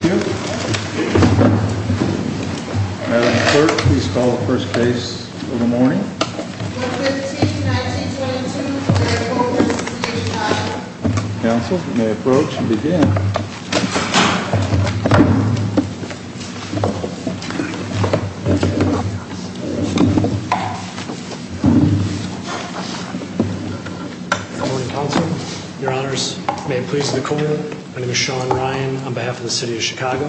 Thank you. Madam Clerk, please call the first case of the morning. 152-1922, Clare Cole v. City of Chicago. Counsel, you may approach and begin. Good morning, Counsel. Your Honors, may it please the Court, my name is Sean Ryan on behalf of the City of Chicago.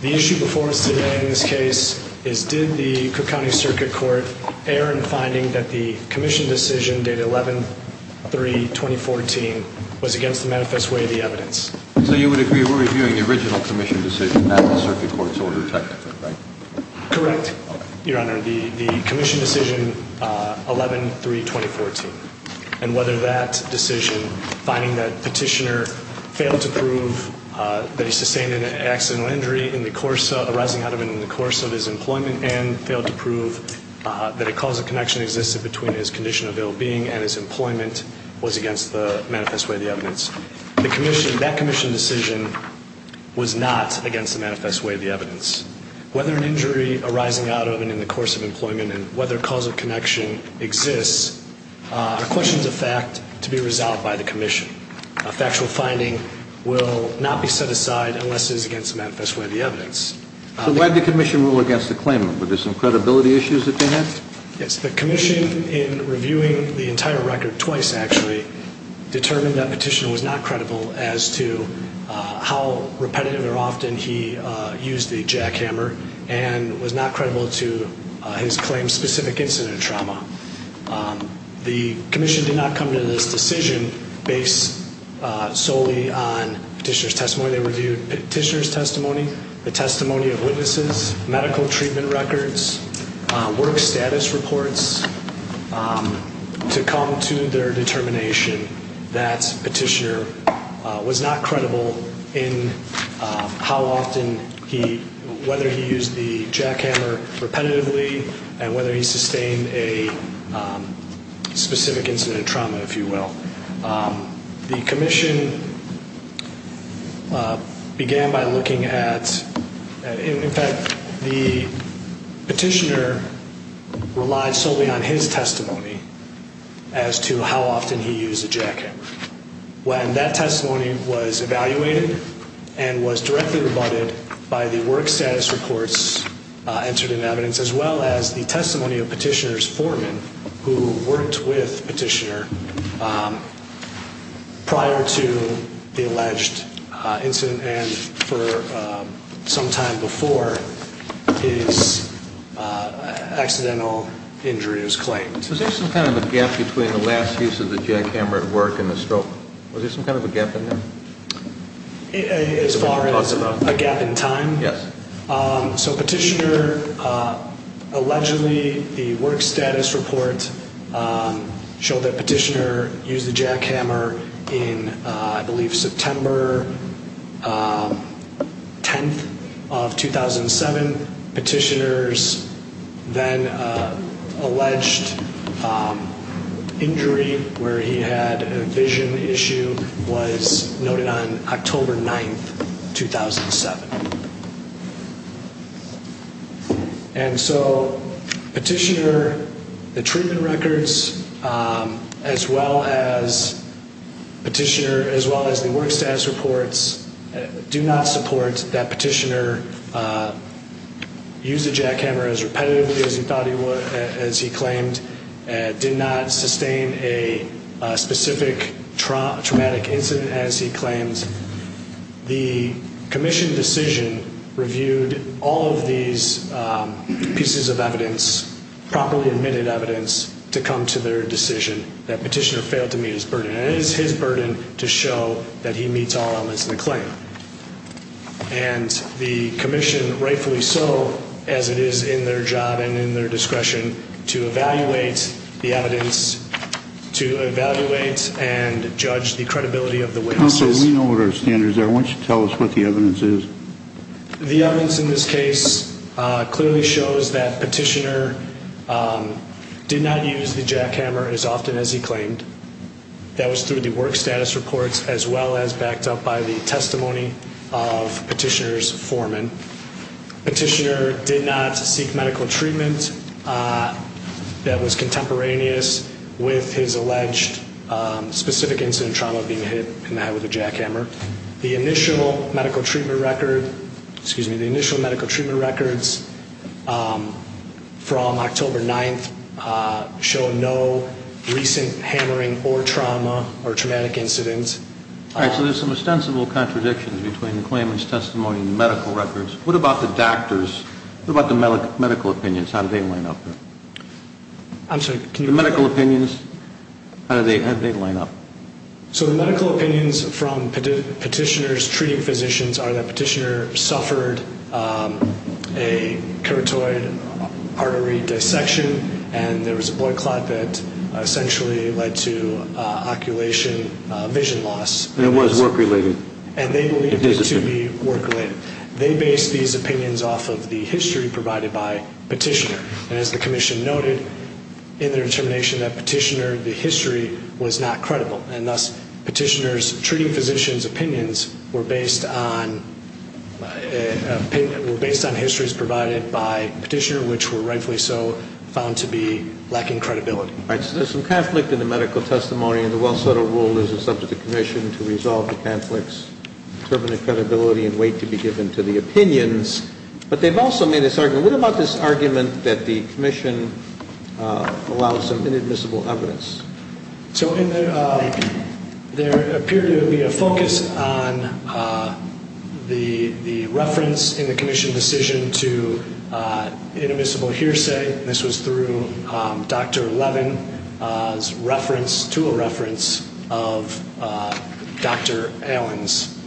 The issue before us today in this case is did the Cook County Circuit Court err in finding that the Commission decision dated 11-3-2014 was against the manifest way of the evidence? So you would agree we're reviewing the original Commission decision not the Circuit Court's order technically, right? Correct, Your Honor. The Commission decision 11-3-2014 and whether that decision, finding that Petitioner failed to prove that he sustained an accidental injury arising out of and in the course of his employment and failed to prove that a cause of connection existed between his condition of ill-being and his employment was against the manifest way of the evidence. That Commission decision was not against the manifest way of the evidence. Whether an injury arising out of and in the course of employment and whether a cause of connection exists are questions of fact to be resolved by the Commission. A factual finding will not be set aside unless it is against the manifest way of the evidence. So why did the Commission rule against the claimant? Were there some credibility issues that they had? Yes, the Commission in reviewing the entire record twice actually determined that Petitioner was not credible as to how repetitive or often he used the jackhammer and was not credible to his claim specific incident trauma. The Commission did not come to this decision based solely on Petitioner's testimony. They reviewed Petitioner's testimony, the testimony of witnesses, medical treatment records, work status reports to come to their determination that Petitioner was not credible in how often he, whether he used the jackhammer repetitively and whether he sustained a specific incident trauma if you will. The Commission began by looking at, in fact the Petitioner relied solely on his testimony as to how often he used the jackhammer. When that testimony was evaluated and was directly rebutted by the work status reports entered in evidence as well as the testimony of Petitioner's foreman who worked with Petitioner prior to the alleged incident and for some time before his accidental injury was claimed. Was there some kind of a gap between the last use of the jackhammer at work and the stroke? Was there some kind of a gap in there? As far as a gap in time? Yes. So Petitioner allegedly, the work status report showed that Petitioner used the jackhammer in I believe September 10th of 2007. Petitioner's then alleged injury where he had a vision issue was noted on October 9th, 2007. And so Petitioner, the treatment records as well as the work status reports do not support that Petitioner used the jackhammer as repetitively as he claimed and did not sustain a specific traumatic incident as he claimed. The Commission decision reviewed all of these pieces of evidence, properly admitted evidence to come to their decision that Petitioner failed to meet his burden. And it is his burden to show that he meets all elements of the claim. And the Commission rightfully so, as it is in their job and in their discretion to evaluate the evidence, to evaluate and judge the credibility of the witnesses. Counsel, we know what our standards are. Why don't you tell us what the evidence is? The evidence in this case clearly shows that Petitioner did not use the jackhammer as often as he claimed. That was through the work status reports as well as backed up by the testimony of Petitioner's foreman. Petitioner did not seek medical treatment that was contemporaneous with his alleged specific incident trauma being hit in the head with a jackhammer. The initial medical treatment records from October 9th show no recent hammering or trauma or traumatic incidents. All right, so there's some ostensible contradictions between the claimant's testimony and the medical records. What about the doctors? What about the medical opinions? How did they line up there? The medical opinions from Petitioner's treating physicians are that Petitioner suffered a carotid artery dissection and there was a blood clot that essentially led to oculation, vision loss. And it was work-related. And they believed it to be work-related. They based these opinions off of the history provided by Petitioner. And as the Commission noted, in their determination that Petitioner, the history was not credible. And thus, Petitioner's treating physicians' opinions were based on histories provided by Petitioner, which were rightfully so found to be lacking credibility. All right, so there's some conflict in the medical testimony. And the well-settled rule is it's up to the Commission to resolve the conflict, determine the credibility, and wait to be given to the opinions. But they've also made this argument. What about this argument that the Commission allows some inadmissible evidence? So there appeared to be a focus on the reference in the Commission decision to inadmissible hearsay. This was through Dr. Levin's reference to a reference of Dr. Allen's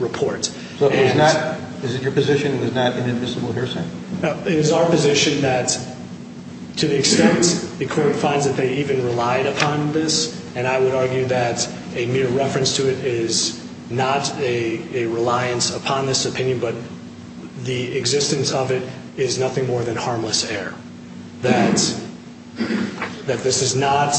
report. Is it your position it was not inadmissible hearsay? It is our position that to the extent the court finds that they even relied upon this, and I would argue that a mere reference to it is not a reliance upon this opinion, but the existence of it is nothing more than harmless error. That this is not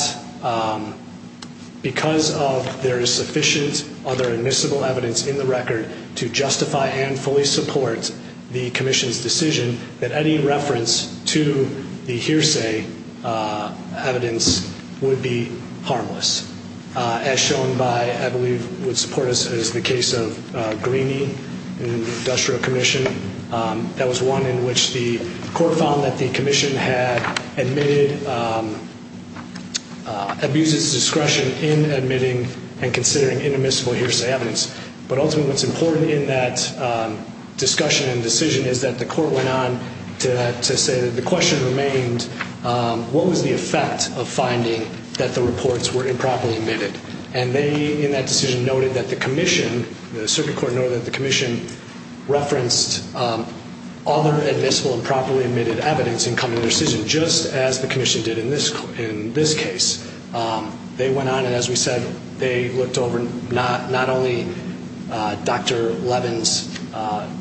because there is sufficient other admissible evidence in the record to justify and fully support the Commission's decision that any reference to the hearsay evidence would be harmless, as shown by what I believe would support us as the case of Greeney in the Industrial Commission. That was one in which the court found that the Commission had abused its discretion in admitting and considering inadmissible hearsay evidence. But ultimately what's important in that discussion and decision is that the court went on to say that the question remained, what was the effect of finding that the reports were improperly admitted? And they, in that decision, noted that the Commission, the Circuit Court, noted that the Commission referenced other admissible improperly admitted evidence in coming to their decision, just as the Commission did in this case. They went on and, as we said, they looked over not only Dr. Levin's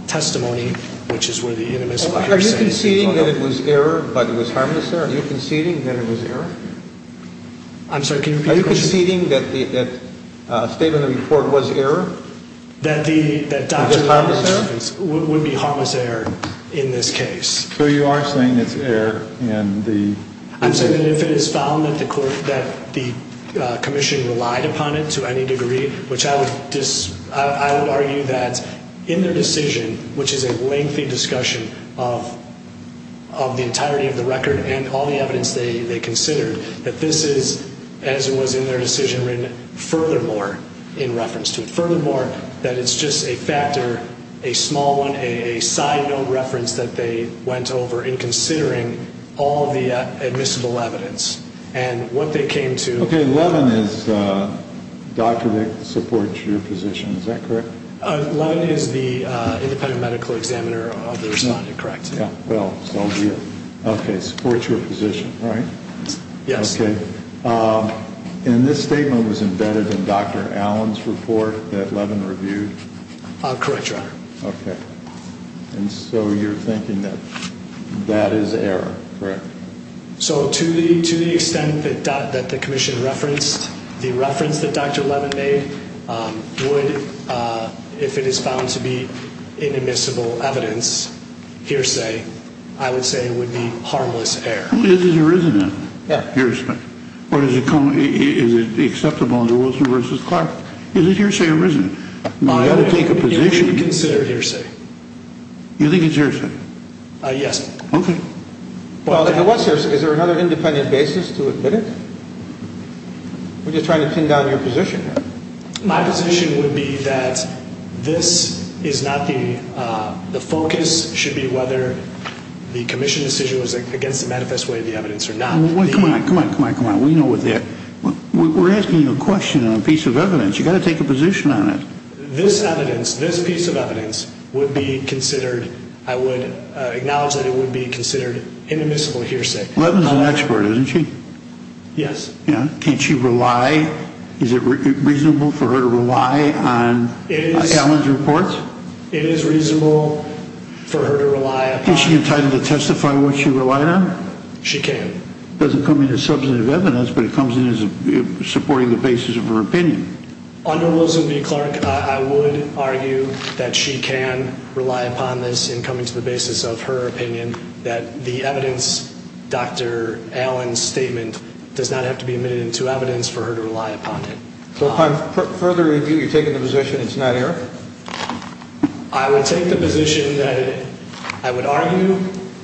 testimony, which is where the inadmissible hearsay is. Are you conceding that it was error, but it was harmless error? Are you conceding that it was error? I'm sorry, can you repeat the question? Are you conceding that the statement of the report was error? That Dr. Levin's statements would be harmless error in this case. So you are saying it's error in the? I'm saying that if it is found that the Commission relied upon it to any degree, which I would argue that in their decision, which is a lengthy discussion of the entirety of the record and all the evidence they considered, that this is, as it was in their decision, furthermore in reference to it, furthermore that it's just a factor, a small one, a side note reference that they went over in considering all the admissible evidence. And what they came to. Okay, Levin is the doctor that supports your position, is that correct? Levin is the independent medical examiner of the respondent, correct? Yeah, well, so be it. Okay, supports your position, right? Yes. Okay. And this statement was embedded in Dr. Allen's report that Levin reviewed? Correct, Your Honor. Okay. And so you're thinking that that is error, correct? So to the extent that the Commission referenced, the reference that Dr. Levin made would, if it is found to be inadmissible evidence, hearsay, I would say would be harmless error. It is or isn't a hearsay, or is it acceptable under Wilson v. Clark? Is it hearsay or isn't it? You should consider it hearsay. You think it's hearsay? Yes. Okay. Well, if it was hearsay, is there another independent basis to admit it? We're just trying to pin down your position here. My position would be that this is not the, the focus should be whether the Commission decision was against the manifest way of the evidence or not. Come on, come on, come on, come on. We know what the, we're asking you a question on a piece of evidence. You've got to take a position on it. This evidence, this piece of evidence would be considered, I would acknowledge that it would be considered inadmissible hearsay. Levin's an expert, isn't she? Yes. Can't she rely, is it reasonable for her to rely on Allen's reports? It is reasonable for her to rely upon. Is she entitled to testify what she relied on? She can. It doesn't come into substantive evidence, but it comes in as supporting the basis of her opinion. Under Wilson v. Clark, I would argue that she can rely upon this in coming to the basis of her opinion, that the evidence, Dr. Allen's statement does not have to be admitted into evidence for her to rely upon it. So upon further review, you're taking the position it's not error? I would take the position that I would argue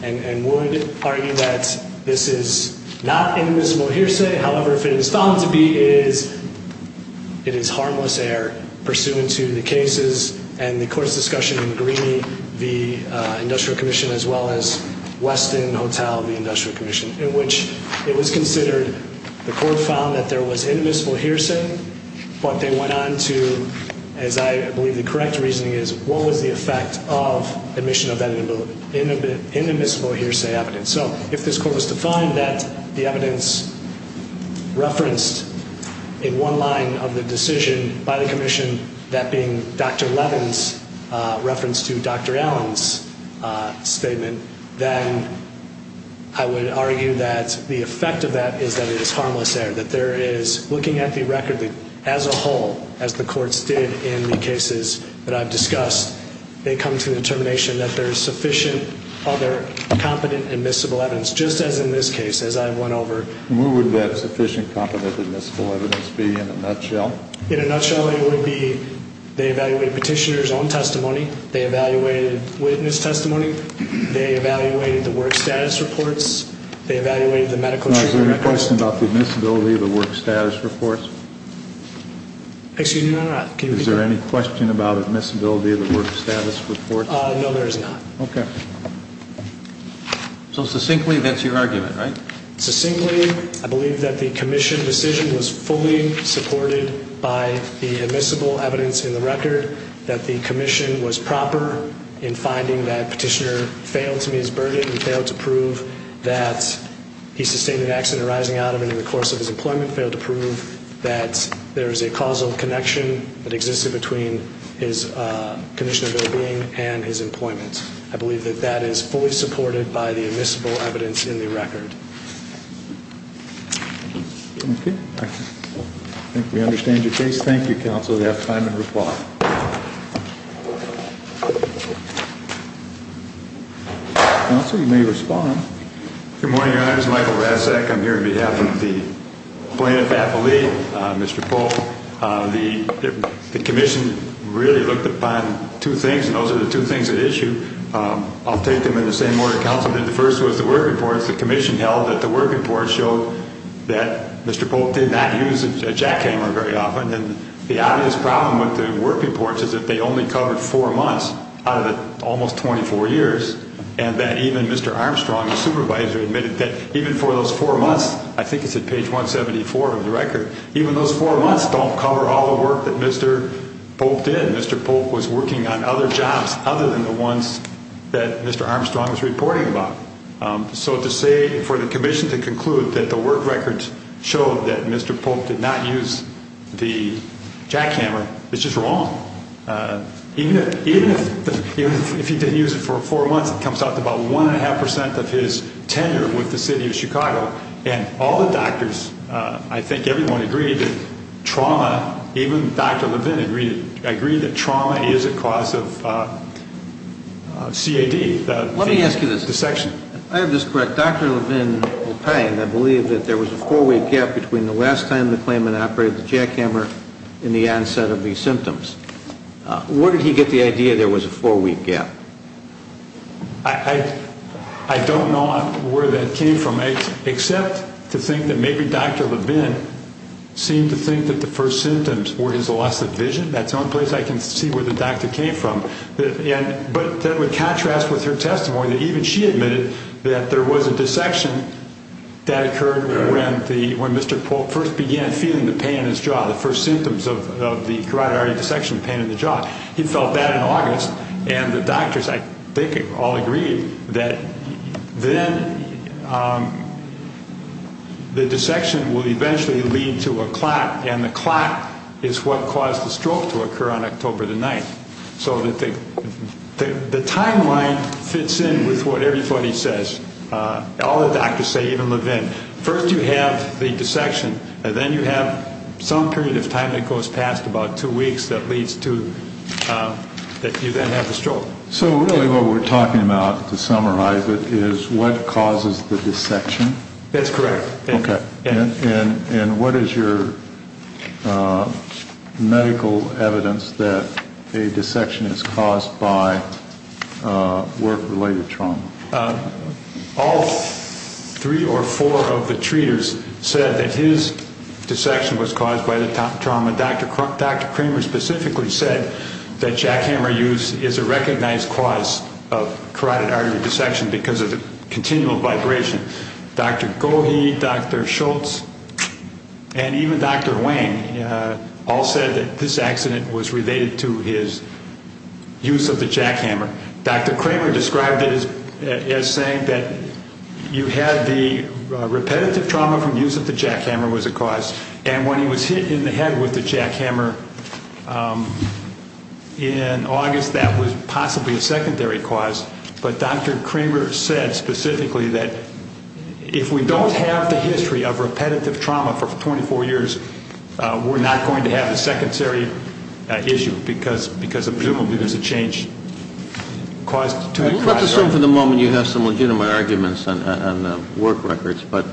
and would argue that this is not inadmissible hearsay. However, if it is found to be, it is harmless error pursuant to the cases and the court's discussion in the Greeney v. Industrial Commission, as well as Weston Hotel v. Industrial Commission, in which it was considered, the court found that there was inadmissible hearsay, but they the correct reasoning is what was the effect of admission of inadmissible hearsay evidence? So if this court was to find that the evidence referenced in one line of the decision by the commission, that being Dr. Levin's reference to Dr. Allen's statement, then I would argue that the effect of that is that it is harmless error, that there is, looking at the record as a whole, as the courts did in the cases that I've discussed, they come to the determination that there is sufficient other competent admissible evidence, just as in this case, as I went over. And where would that sufficient competent admissible evidence be in a nutshell? In a nutshell, it would be they evaluated petitioner's own testimony, they evaluated witness testimony, they evaluated the work status reports, they evaluated the medical treatment records. Is there any question about the admissibility of the work status reports? Excuse me? No, no. Can you repeat that? Is there any question about admissibility of the work status reports? No, there is not. Okay. So succinctly, that's your argument, right? Succinctly, I believe that the commission decision was fully supported by the admissible evidence in the record, that the commission was proper in finding that petitioner failed to meet his burden, he failed to prove that he sustained an accident arising out of it in the course of his employment, failed to prove that there is a causal connection that existed between his condition of well-being and his employment. I believe that that is fully supported by the admissible evidence in the record. Okay. I think we understand your case. Thank you, counsel. We have time to reply. Counsel, you may respond. Good morning, Your Honor. This is Michael Rasek. I'm here on behalf of the plaintiff's affilee, Mr. Polk. The commission really looked upon two things, and those are the two things at issue. I'll take them in the same order counsel did. The first was the work reports. The commission held that the work reports showed that Mr. Polk did not use a jackhammer very often, and the obvious problem with the work reports is that they only covered four years, and that even Mr. Armstrong, the supervisor, admitted that even for those four months, I think it's at page 174 of the record, even those four months don't cover all the work that Mr. Polk did. Mr. Polk was working on other jobs other than the ones that Mr. Armstrong was reporting about. So to say for the commission to conclude that the work records showed that Mr. Polk did not use the jackhammer is just wrong. Even if he didn't use it for four months, it comes out to about one and a half percent of his tenure with the city of Chicago, and all the doctors, I think everyone agreed that trauma, even Dr. Levin agreed that trauma is a cause of CAD, the dissection. Let me ask you this. I have this correct. Dr. Levin will pay, and I believe that there was a four-way gap between the last time the What did he get the idea there was a four-way gap? I don't know where that came from, except to think that maybe Dr. Levin seemed to think that the first symptoms were his loss of vision. That's the only place I can see where the doctor came from. But that would contrast with her testimony that even she admitted that there was a dissection that occurred when Mr. Polk first began feeling the pain in his jaw, the first symptoms of the carotid artery dissection pain in the jaw. He felt that in August, and the doctors, I think, all agreed that then the dissection will eventually lead to a clot, and the clot is what caused the stroke to occur on October the 9th. So the timeline fits in with what everybody says. All the doctors say, even Levin. First you have the dissection, and then you have some period of time that goes past, about two weeks, that leads to that you then have the stroke. So really what we're talking about, to summarize it, is what causes the dissection? That's correct. Okay. And what is your medical evidence that a dissection is caused by work-related trauma? All three or four of the treaters said that his dissection was caused by the trauma. Dr. Kramer specifically said that jackhammer use is a recognized cause of carotid artery dissection because of the continual vibration. Dr. Gohe, Dr. Schultz, and even Dr. Wang all said that this accident was related to his use of the jackhammer. Dr. Kramer described it as saying that you had the repetitive trauma from use of the jackhammer was a cause, and when he was hit in the head with the jackhammer in August, that was possibly a secondary cause. But Dr. Kramer said specifically that if we don't have the history of repetitive trauma for 24 years, we're not going to have a secondary issue because presumably there's a change to the cause. Let's assume for the moment you have some legitimate arguments on work records, but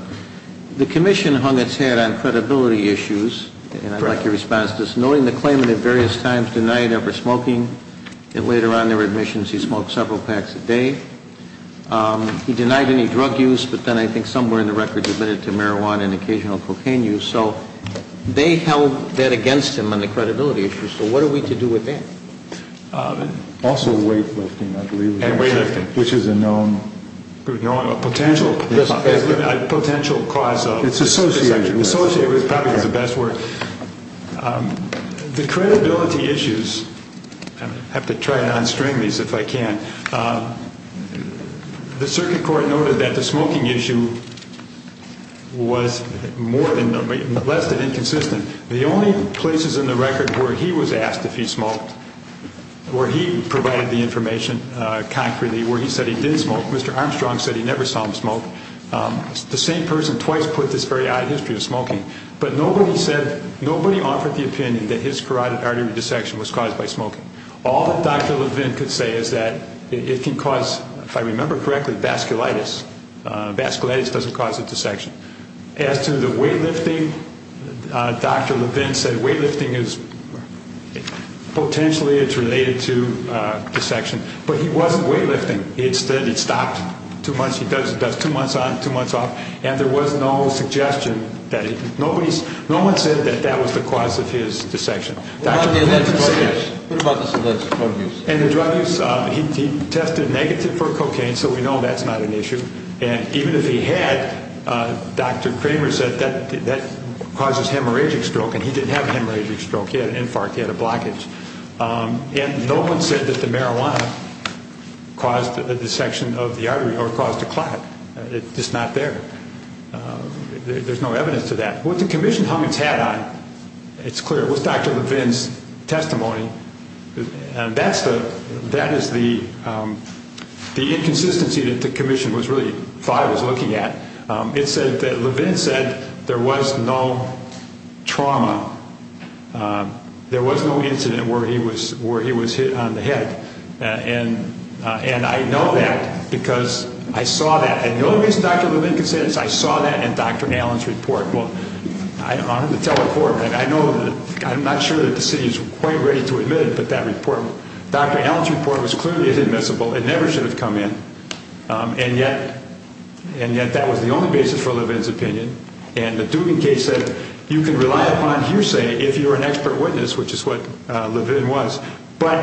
the commission hung its head on credibility issues, and I'd like your response to this. Knowing the claimant at various times denied ever smoking, and later on there were admissions he smoked several packs a day, he denied any drug use, but then I think somewhere in the records admitted to marijuana and occasional cocaine use. So they held that against him on the credibility issue. So what are we to do with that? Also weightlifting, I believe. And weightlifting. Which is a known potential cause of dissection. Dissociation. Dissociation is probably the best word. The credibility issues, I have to try to non-string these if I can. The circuit court noted that the smoking issue was less than inconsistent. The only places in the record where he was asked if he smoked, where he provided the information concretely, where he said he did smoke, Mr. Armstrong said he never saw him smoke, the same person twice put this very odd history of smoking. But nobody said, nobody offered the opinion that his carotid artery dissection was caused by smoking. All that Dr. Levin could say is that it can cause, if I remember correctly, vasculitis. Vasculitis doesn't cause a dissection. As to the weightlifting, Dr. Levin said weightlifting is, potentially it's related to dissection. But he wasn't weightlifting. It stopped. Two months on, two months off. And there was no suggestion that it, nobody, no one said that that was the cause of his dissection. What about the drug use? And the drug use, he tested negative for cocaine, so we know that's not an issue. And even if he had, Dr. Kramer said that causes hemorrhagic stroke, and he didn't have hemorrhagic stroke. He had an infarct, he had a blockage. And no one said that the marijuana caused a dissection of the artery or caused a clot. It's just not there. There's no evidence to that. What the commission hung its hat on, it's clear, was Dr. Levin's testimony. And that is the inconsistency that the commission was really, thought it was looking at. It said that Levin said there was no trauma. There was no incident where he was hit on the head. And I know that because I saw that. And the only reason Dr. Levin can say that is I saw that in Dr. Allen's report. Well, I'm not sure that the city is quite ready to admit it, but that report, Dr. Allen's report was clearly inadmissible. It never should have come in. And yet that was the only basis for Levin's opinion. And the Dugan case said you can rely upon hearsay if you're an expert witness, which is what Levin was. But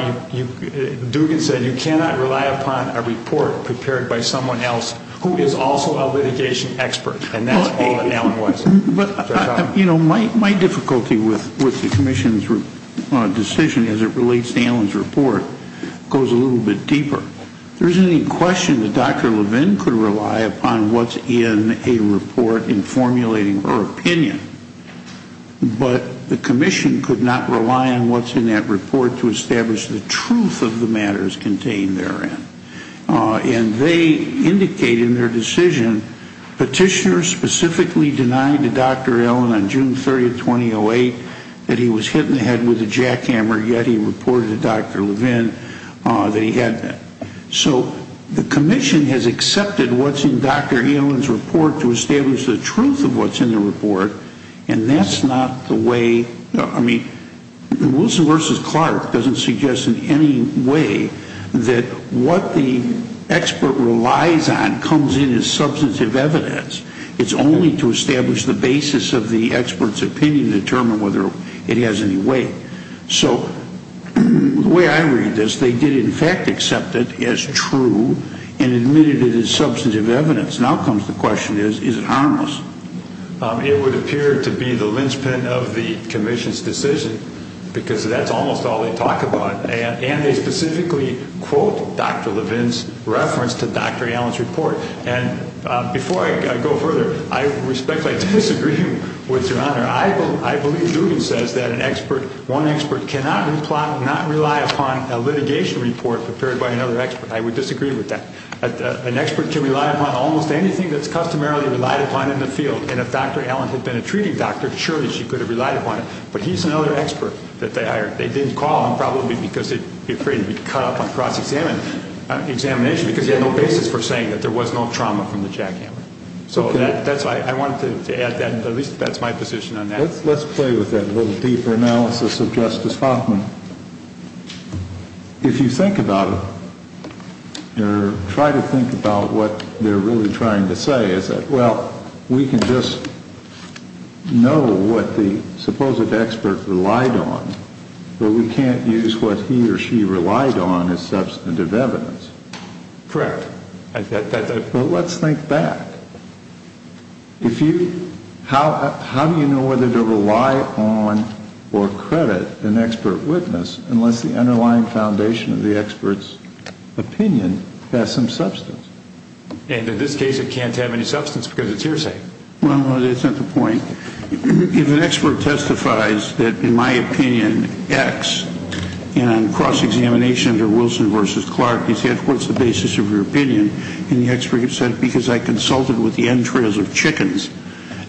Dugan said you cannot rely upon a report prepared by someone else who is also a litigation expert. And that's all that Allen was. You know, my difficulty with the commission's decision as it relates to Allen's report goes a little bit deeper. There isn't any question that Dr. Levin could rely upon what's in a report in formulating her opinion. But the commission could not rely on what's in that report to establish the truth of the matters contained therein. And they indicated in their decision petitioners specifically denied to Dr. Allen on June 30, 2008, that he was hit in the head with a jackhammer, yet he reported to Dr. Levin that he had been. So the commission has accepted what's in Dr. Allen's report to establish the truth of what's in the report. And that's not the way, I mean, Wilson v. Clark doesn't suggest in any way that what the expert relies on comes in as substantive evidence. It's only to establish the basis of the expert's opinion to determine whether it has any weight. So the way I read this, they did in fact accept it as true and admitted it as substantive evidence. Now comes the question is, is it harmless? It would appear to be the linchpin of the commission's decision because that's almost all they talk about. And they specifically quote Dr. Levin's reference to Dr. Allen's report. And before I go further, I respectfully disagree with Your Honor. I believe Levin says that one expert cannot not rely upon a litigation report prepared by another expert. I would disagree with that. An expert can rely upon almost anything that's customarily relied upon in the field. And if Dr. Allen had been a treating doctor, surely she could have relied upon it. But he's another expert that they hired. I think the problem probably would be because he'd be afraid to be caught up on cross-examination because he had no basis for saying that there was no trauma from the jackhammer. So that's why I wanted to add that. At least that's my position on that. Let's play with that a little deeper analysis of Justice Hoffman. If you think about it or try to think about what they're really trying to say, Well, we can just know what the supposed expert relied on, but we can't use what he or she relied on as substantive evidence. Correct. But let's think back. How do you know whether to rely upon or credit an expert witness unless the underlying foundation of the expert's opinion has some substance? And in this case, it can't have any substance because it's hearsay. Well, that's not the point. If an expert testifies that, in my opinion, X, and on cross-examination under Wilson v. Clark, he said, What's the basis of your opinion? And the expert said, Because I consulted with the entrails of chickens.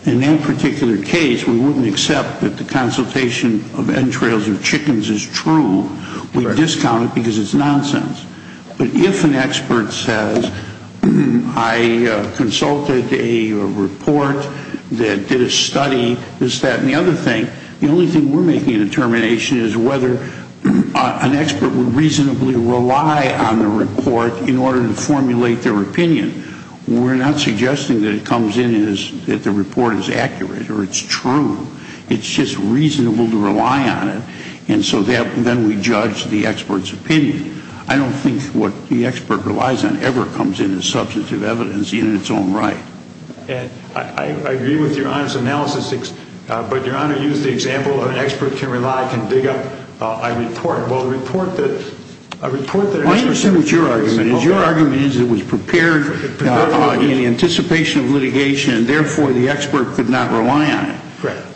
In that particular case, we wouldn't accept that the consultation of entrails of chickens is true. We'd discount it because it's nonsense. But if an expert says, I consulted a report that did a study, this, that, and the other thing, the only thing we're making a determination is whether an expert would reasonably rely on the report in order to formulate their opinion. We're not suggesting that it comes in as that the report is accurate or it's true. It's just reasonable to rely on it. And so then we judge the expert's opinion. I don't think what the expert relies on ever comes in as substantive evidence in its own right. And I agree with Your Honor's analysis. But Your Honor used the example of an expert can rely, can dig up a report. Well, a report that an expert can rely on is an open argument. I understand what your argument is. Your argument is it was prepared in anticipation of litigation, and therefore the expert could not rely on it. Correct.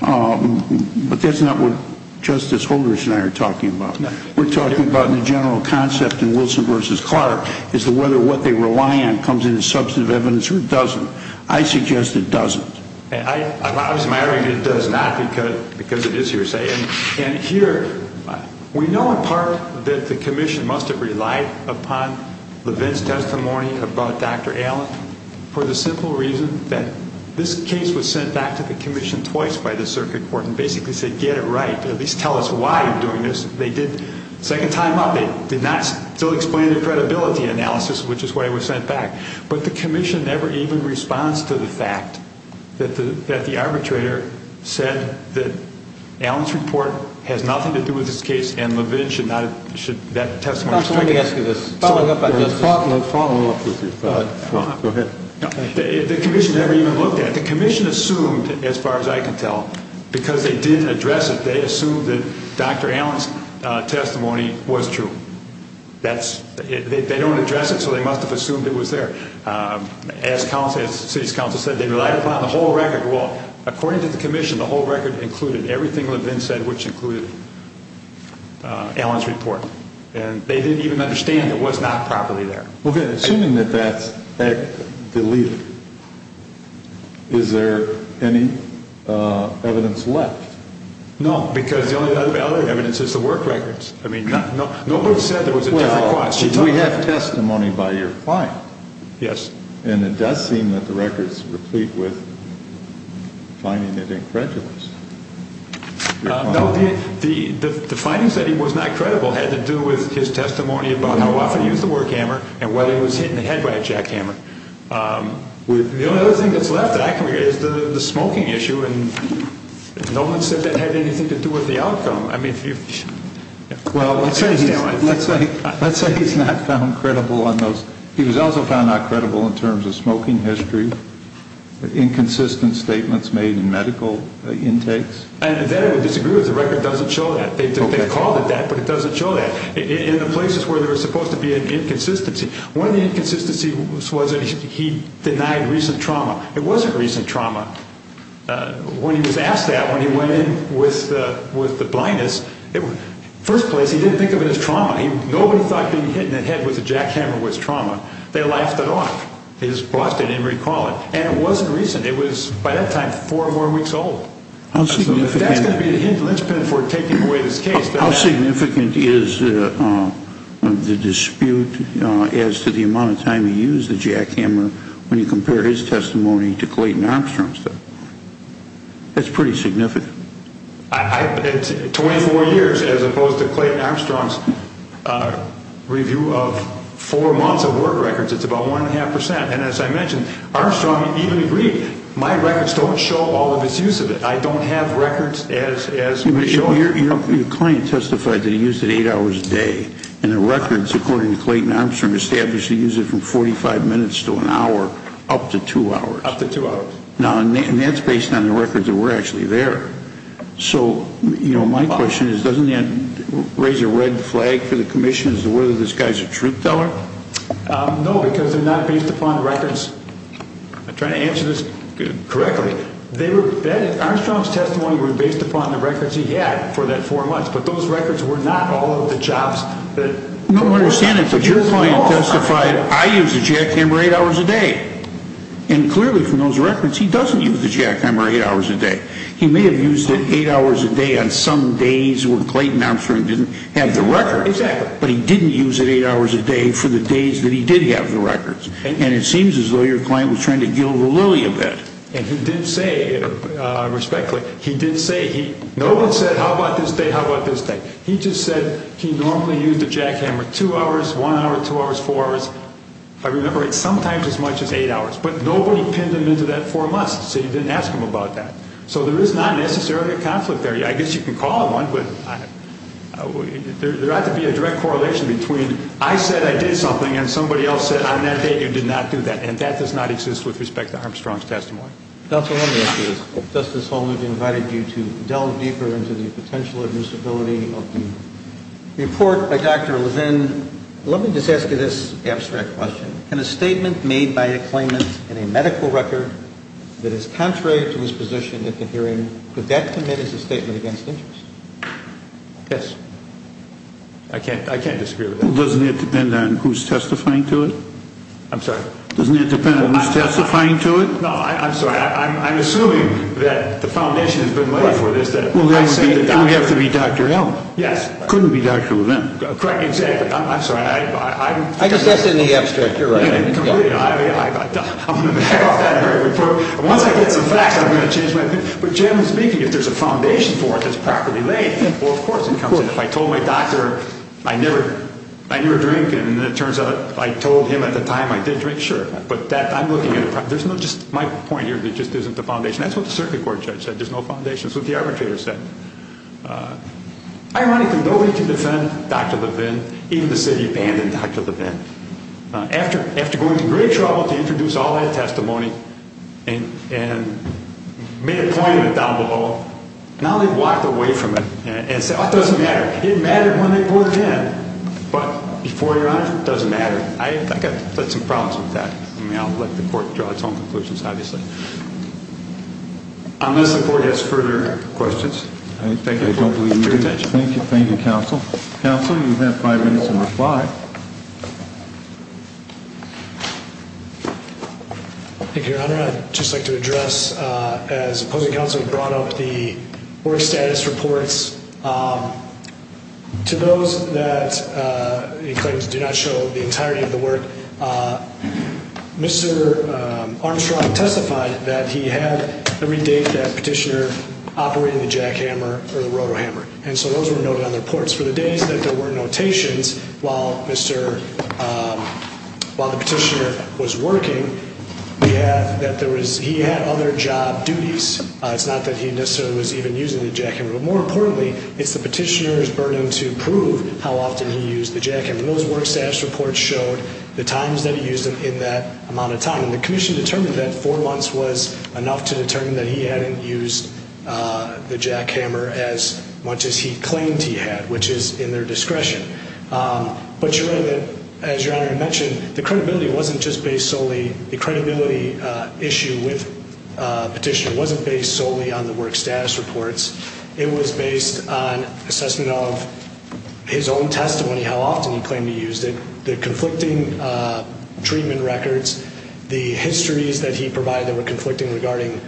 But that's not what Justice Holder and I are talking about. We're talking about the general concept in Wilson v. Clark as to whether what they rely on comes in as substantive evidence or doesn't. I suggest it doesn't. I was maddering it does not because it is hearsay. And here we know in part that the commission must have relied upon Levin's testimony about Dr. Allen for the simple reason that this case was sent back to the commission twice by the circuit court and basically said, get it right. At least tell us why you're doing this. They did second time up. They did not still explain their credibility analysis, which is why it was sent back. But the commission never even responds to the fact that the arbitrator said that Allen's report has nothing to do with this case and Levin should not have that testimony. Let me ask you this. Following up on this. Follow up with me. Go ahead. The commission never even looked at it. The commission assumed, as far as I can tell, because they didn't address it. They assumed that Dr. Allen's testimony was true. They don't address it, so they must have assumed it was there. As city council said, they relied upon the whole record. Well, according to the commission, the whole record included everything Levin said, which included Allen's report. And they didn't even understand it was not properly there. Okay. Assuming that that's the lead, is there any evidence left? No. Because the only other evidence is the work records. I mean, no one said there was a different question. We have testimony by your client. Yes. And it does seem that the record is replete with finding it incredulous. The findings that he was not credible had to do with his testimony about how often he used the work hammer and whether he was hit in the head by a jackhammer. The only other thing that's left is the smoking issue, and no one said that had anything to do with the outcome. Well, let's say he's not found credible on those. He was also found not credible in terms of smoking history. Do you disagree with inconsistent statements made in medical intakes? And then I would disagree with the record doesn't show that. They called it that, but it doesn't show that. In the places where there was supposed to be an inconsistency, one of the inconsistencies was that he denied recent trauma. It wasn't recent trauma. When he was asked that, when he went in with the blindness, first place, he didn't think of it as trauma. Nobody thought being hit in the head with a jackhammer was trauma. They laughed it off. It was busted. They didn't recall it. And it wasn't recent. It was, by that time, four more weeks old. How significant is the dispute as to the amount of time he used the jackhammer when you compare his testimony to Clayton Armstrong's testimony? That's pretty significant. Twenty-four years, as opposed to Clayton Armstrong's review of four months of work records, it's about one and a half percent. And as I mentioned, Armstrong even agreed, my records don't show all of his use of it. I don't have records as to his use of it. Your client testified that he used it eight hours a day. And the records, according to Clayton Armstrong, established he used it from 45 minutes to an hour, up to two hours. Up to two hours. Now, and that's based on the records that were actually there. So, you know, my question is, doesn't that raise a red flag for the commission as to whether this guy's a truth teller? No, because they're not based upon the records. I'm trying to answer this correctly. Armstrong's testimony were based upon the records he had for that four months. But those records were not all of the chops. No, I understand that. But your client testified, I use a jackhammer eight hours a day. And clearly from those records, he doesn't use the jackhammer eight hours a day. He may have used it eight hours a day on some days when Clayton Armstrong didn't have the records. Exactly. But he didn't use it eight hours a day for the days that he did have the records. And it seems as though your client was trying to gild the lily of it. And he did say, respectfully, he did say, no one said how about this day, how about this day. He just said he normally used a jackhammer two hours, one hour, two hours, four hours. If I remember right, sometimes as much as eight hours. But nobody pinned him into that four months. So you didn't ask him about that. So there is not necessarily a conflict there. I guess you can call it one, but there ought to be a direct correlation between I said I did something and somebody else said on that day you did not do that. And that does not exist with respect to Armstrong's testimony. Dr., let me ask you this. Justice Holdren invited you to delve deeper into the potential admissibility of the report by Dr. Levin. And let me just ask you this abstract question. Can a statement made by a claimant in a medical record that is contrary to his position at the hearing, could that commit as a statement against interest? Yes. I can't disagree with that. Doesn't it depend on who is testifying to it? I'm sorry? Doesn't it depend on who is testifying to it? No, I'm sorry. I'm assuming that the foundation has been ready for this. Well, then you have to be Dr. Allen. Yes. Couldn't be Dr. Levin. Correct. Exactly. I'm sorry. I guess that's in the abstract. You're right. Completely. Once I get some facts, I'm going to change my opinion. But generally speaking, if there's a foundation for it that's properly laid, well, of course it comes in. If I told my doctor I never drink and it turns out I told him at the time I did drink, sure. But I'm looking at it. There's no just my point here. There just isn't a foundation. That's what the circuit court judge said. There's no foundation. That's what the arbitrator said. Ironically, nobody can defend Dr. Levin. Even the city abandoned Dr. Levin. After going to great trouble to introduce all that testimony and made a point of it down below, now they've walked away from it and said, oh, it doesn't matter. It mattered when they poured gin. But before your honor, it doesn't matter. I've got some problems with that. I mean, I'll let the court draw its own conclusions, obviously. Unless the court has further questions. Thank you for your attention. Thank you. Thank you, counsel. Counsel, you have five minutes to reply. Thank you, your honor. I'd just like to address, as opposing counsel brought up the work status reports, to those that the claims do not show the entirety of the work, Mr. Armstrong testified that he had every date that petitioner operated the jackhammer or the rotohammer. And so those were noted on the reports. For the days that there were notations while the petitioner was working, he had other job duties. It's not that he necessarily was even using the jackhammer. But more importantly, it's the petitioner's burden to prove how often he used the jackhammer. And those work status reports showed the times that he used them in that amount of time. And the commission determined that four months was enough to determine that he hadn't used the jackhammer as much as he claimed he had, which is in their discretion. But you're right that, as your honor mentioned, the credibility wasn't just based solely, the credibility issue with petitioner wasn't based solely on the work status reports. It was based on assessment of his own testimony, how often he claimed he used it, the conflicting treatment records, the histories that he provided that were conflicting regarding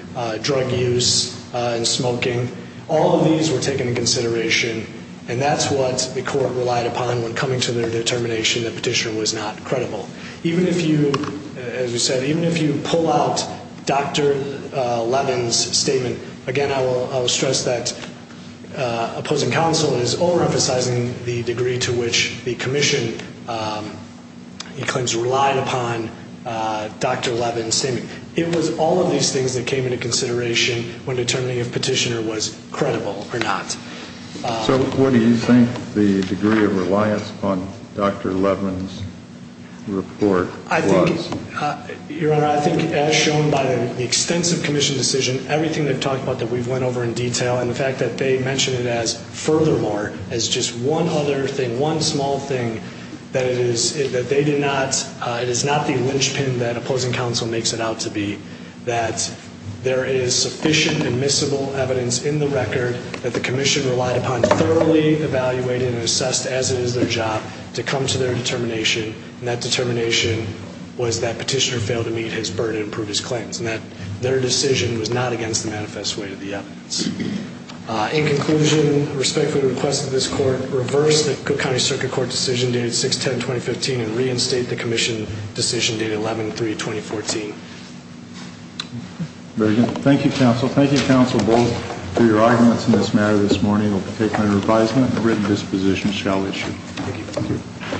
drug use and smoking. All of these were taken into consideration. And that's what the court relied upon when coming to their determination that petitioner was not credible. Even if you, as we said, even if you pull out Dr. Levin's statement, again, I will stress that opposing counsel is overemphasizing the degree to which the commission claims relied upon Dr. Levin's statement. It was all of these things that came into consideration when determining if petitioner was credible or not. So what do you think the degree of reliance on Dr. Levin's report was? I think, your honor, I think as shown by the extensive commission decision, everything they've talked about that we've went over in detail and the fact that they mentioned it as furthermore, as just one other thing, one small thing, that it is that they did not, it is not the linchpin that opposing counsel makes it out to be, that there is sufficient admissible evidence in the record that the commission relied upon, thoroughly evaluated and assessed as it is their job to come to their determination, and that determination was that petitioner failed to meet his burden and prove his claims, and that their decision was not against the manifest weight of the evidence. In conclusion, I respectfully request that this court reverse the Cook County Circuit Court decision dated 6-10-2015 and reinstate the commission decision dated 11-3-2014. Very good. Thank you, counsel. Thank you, counsel, both, for your arguments in this matter this morning. I'll take my reprisement and written disposition shall issue. Thank you.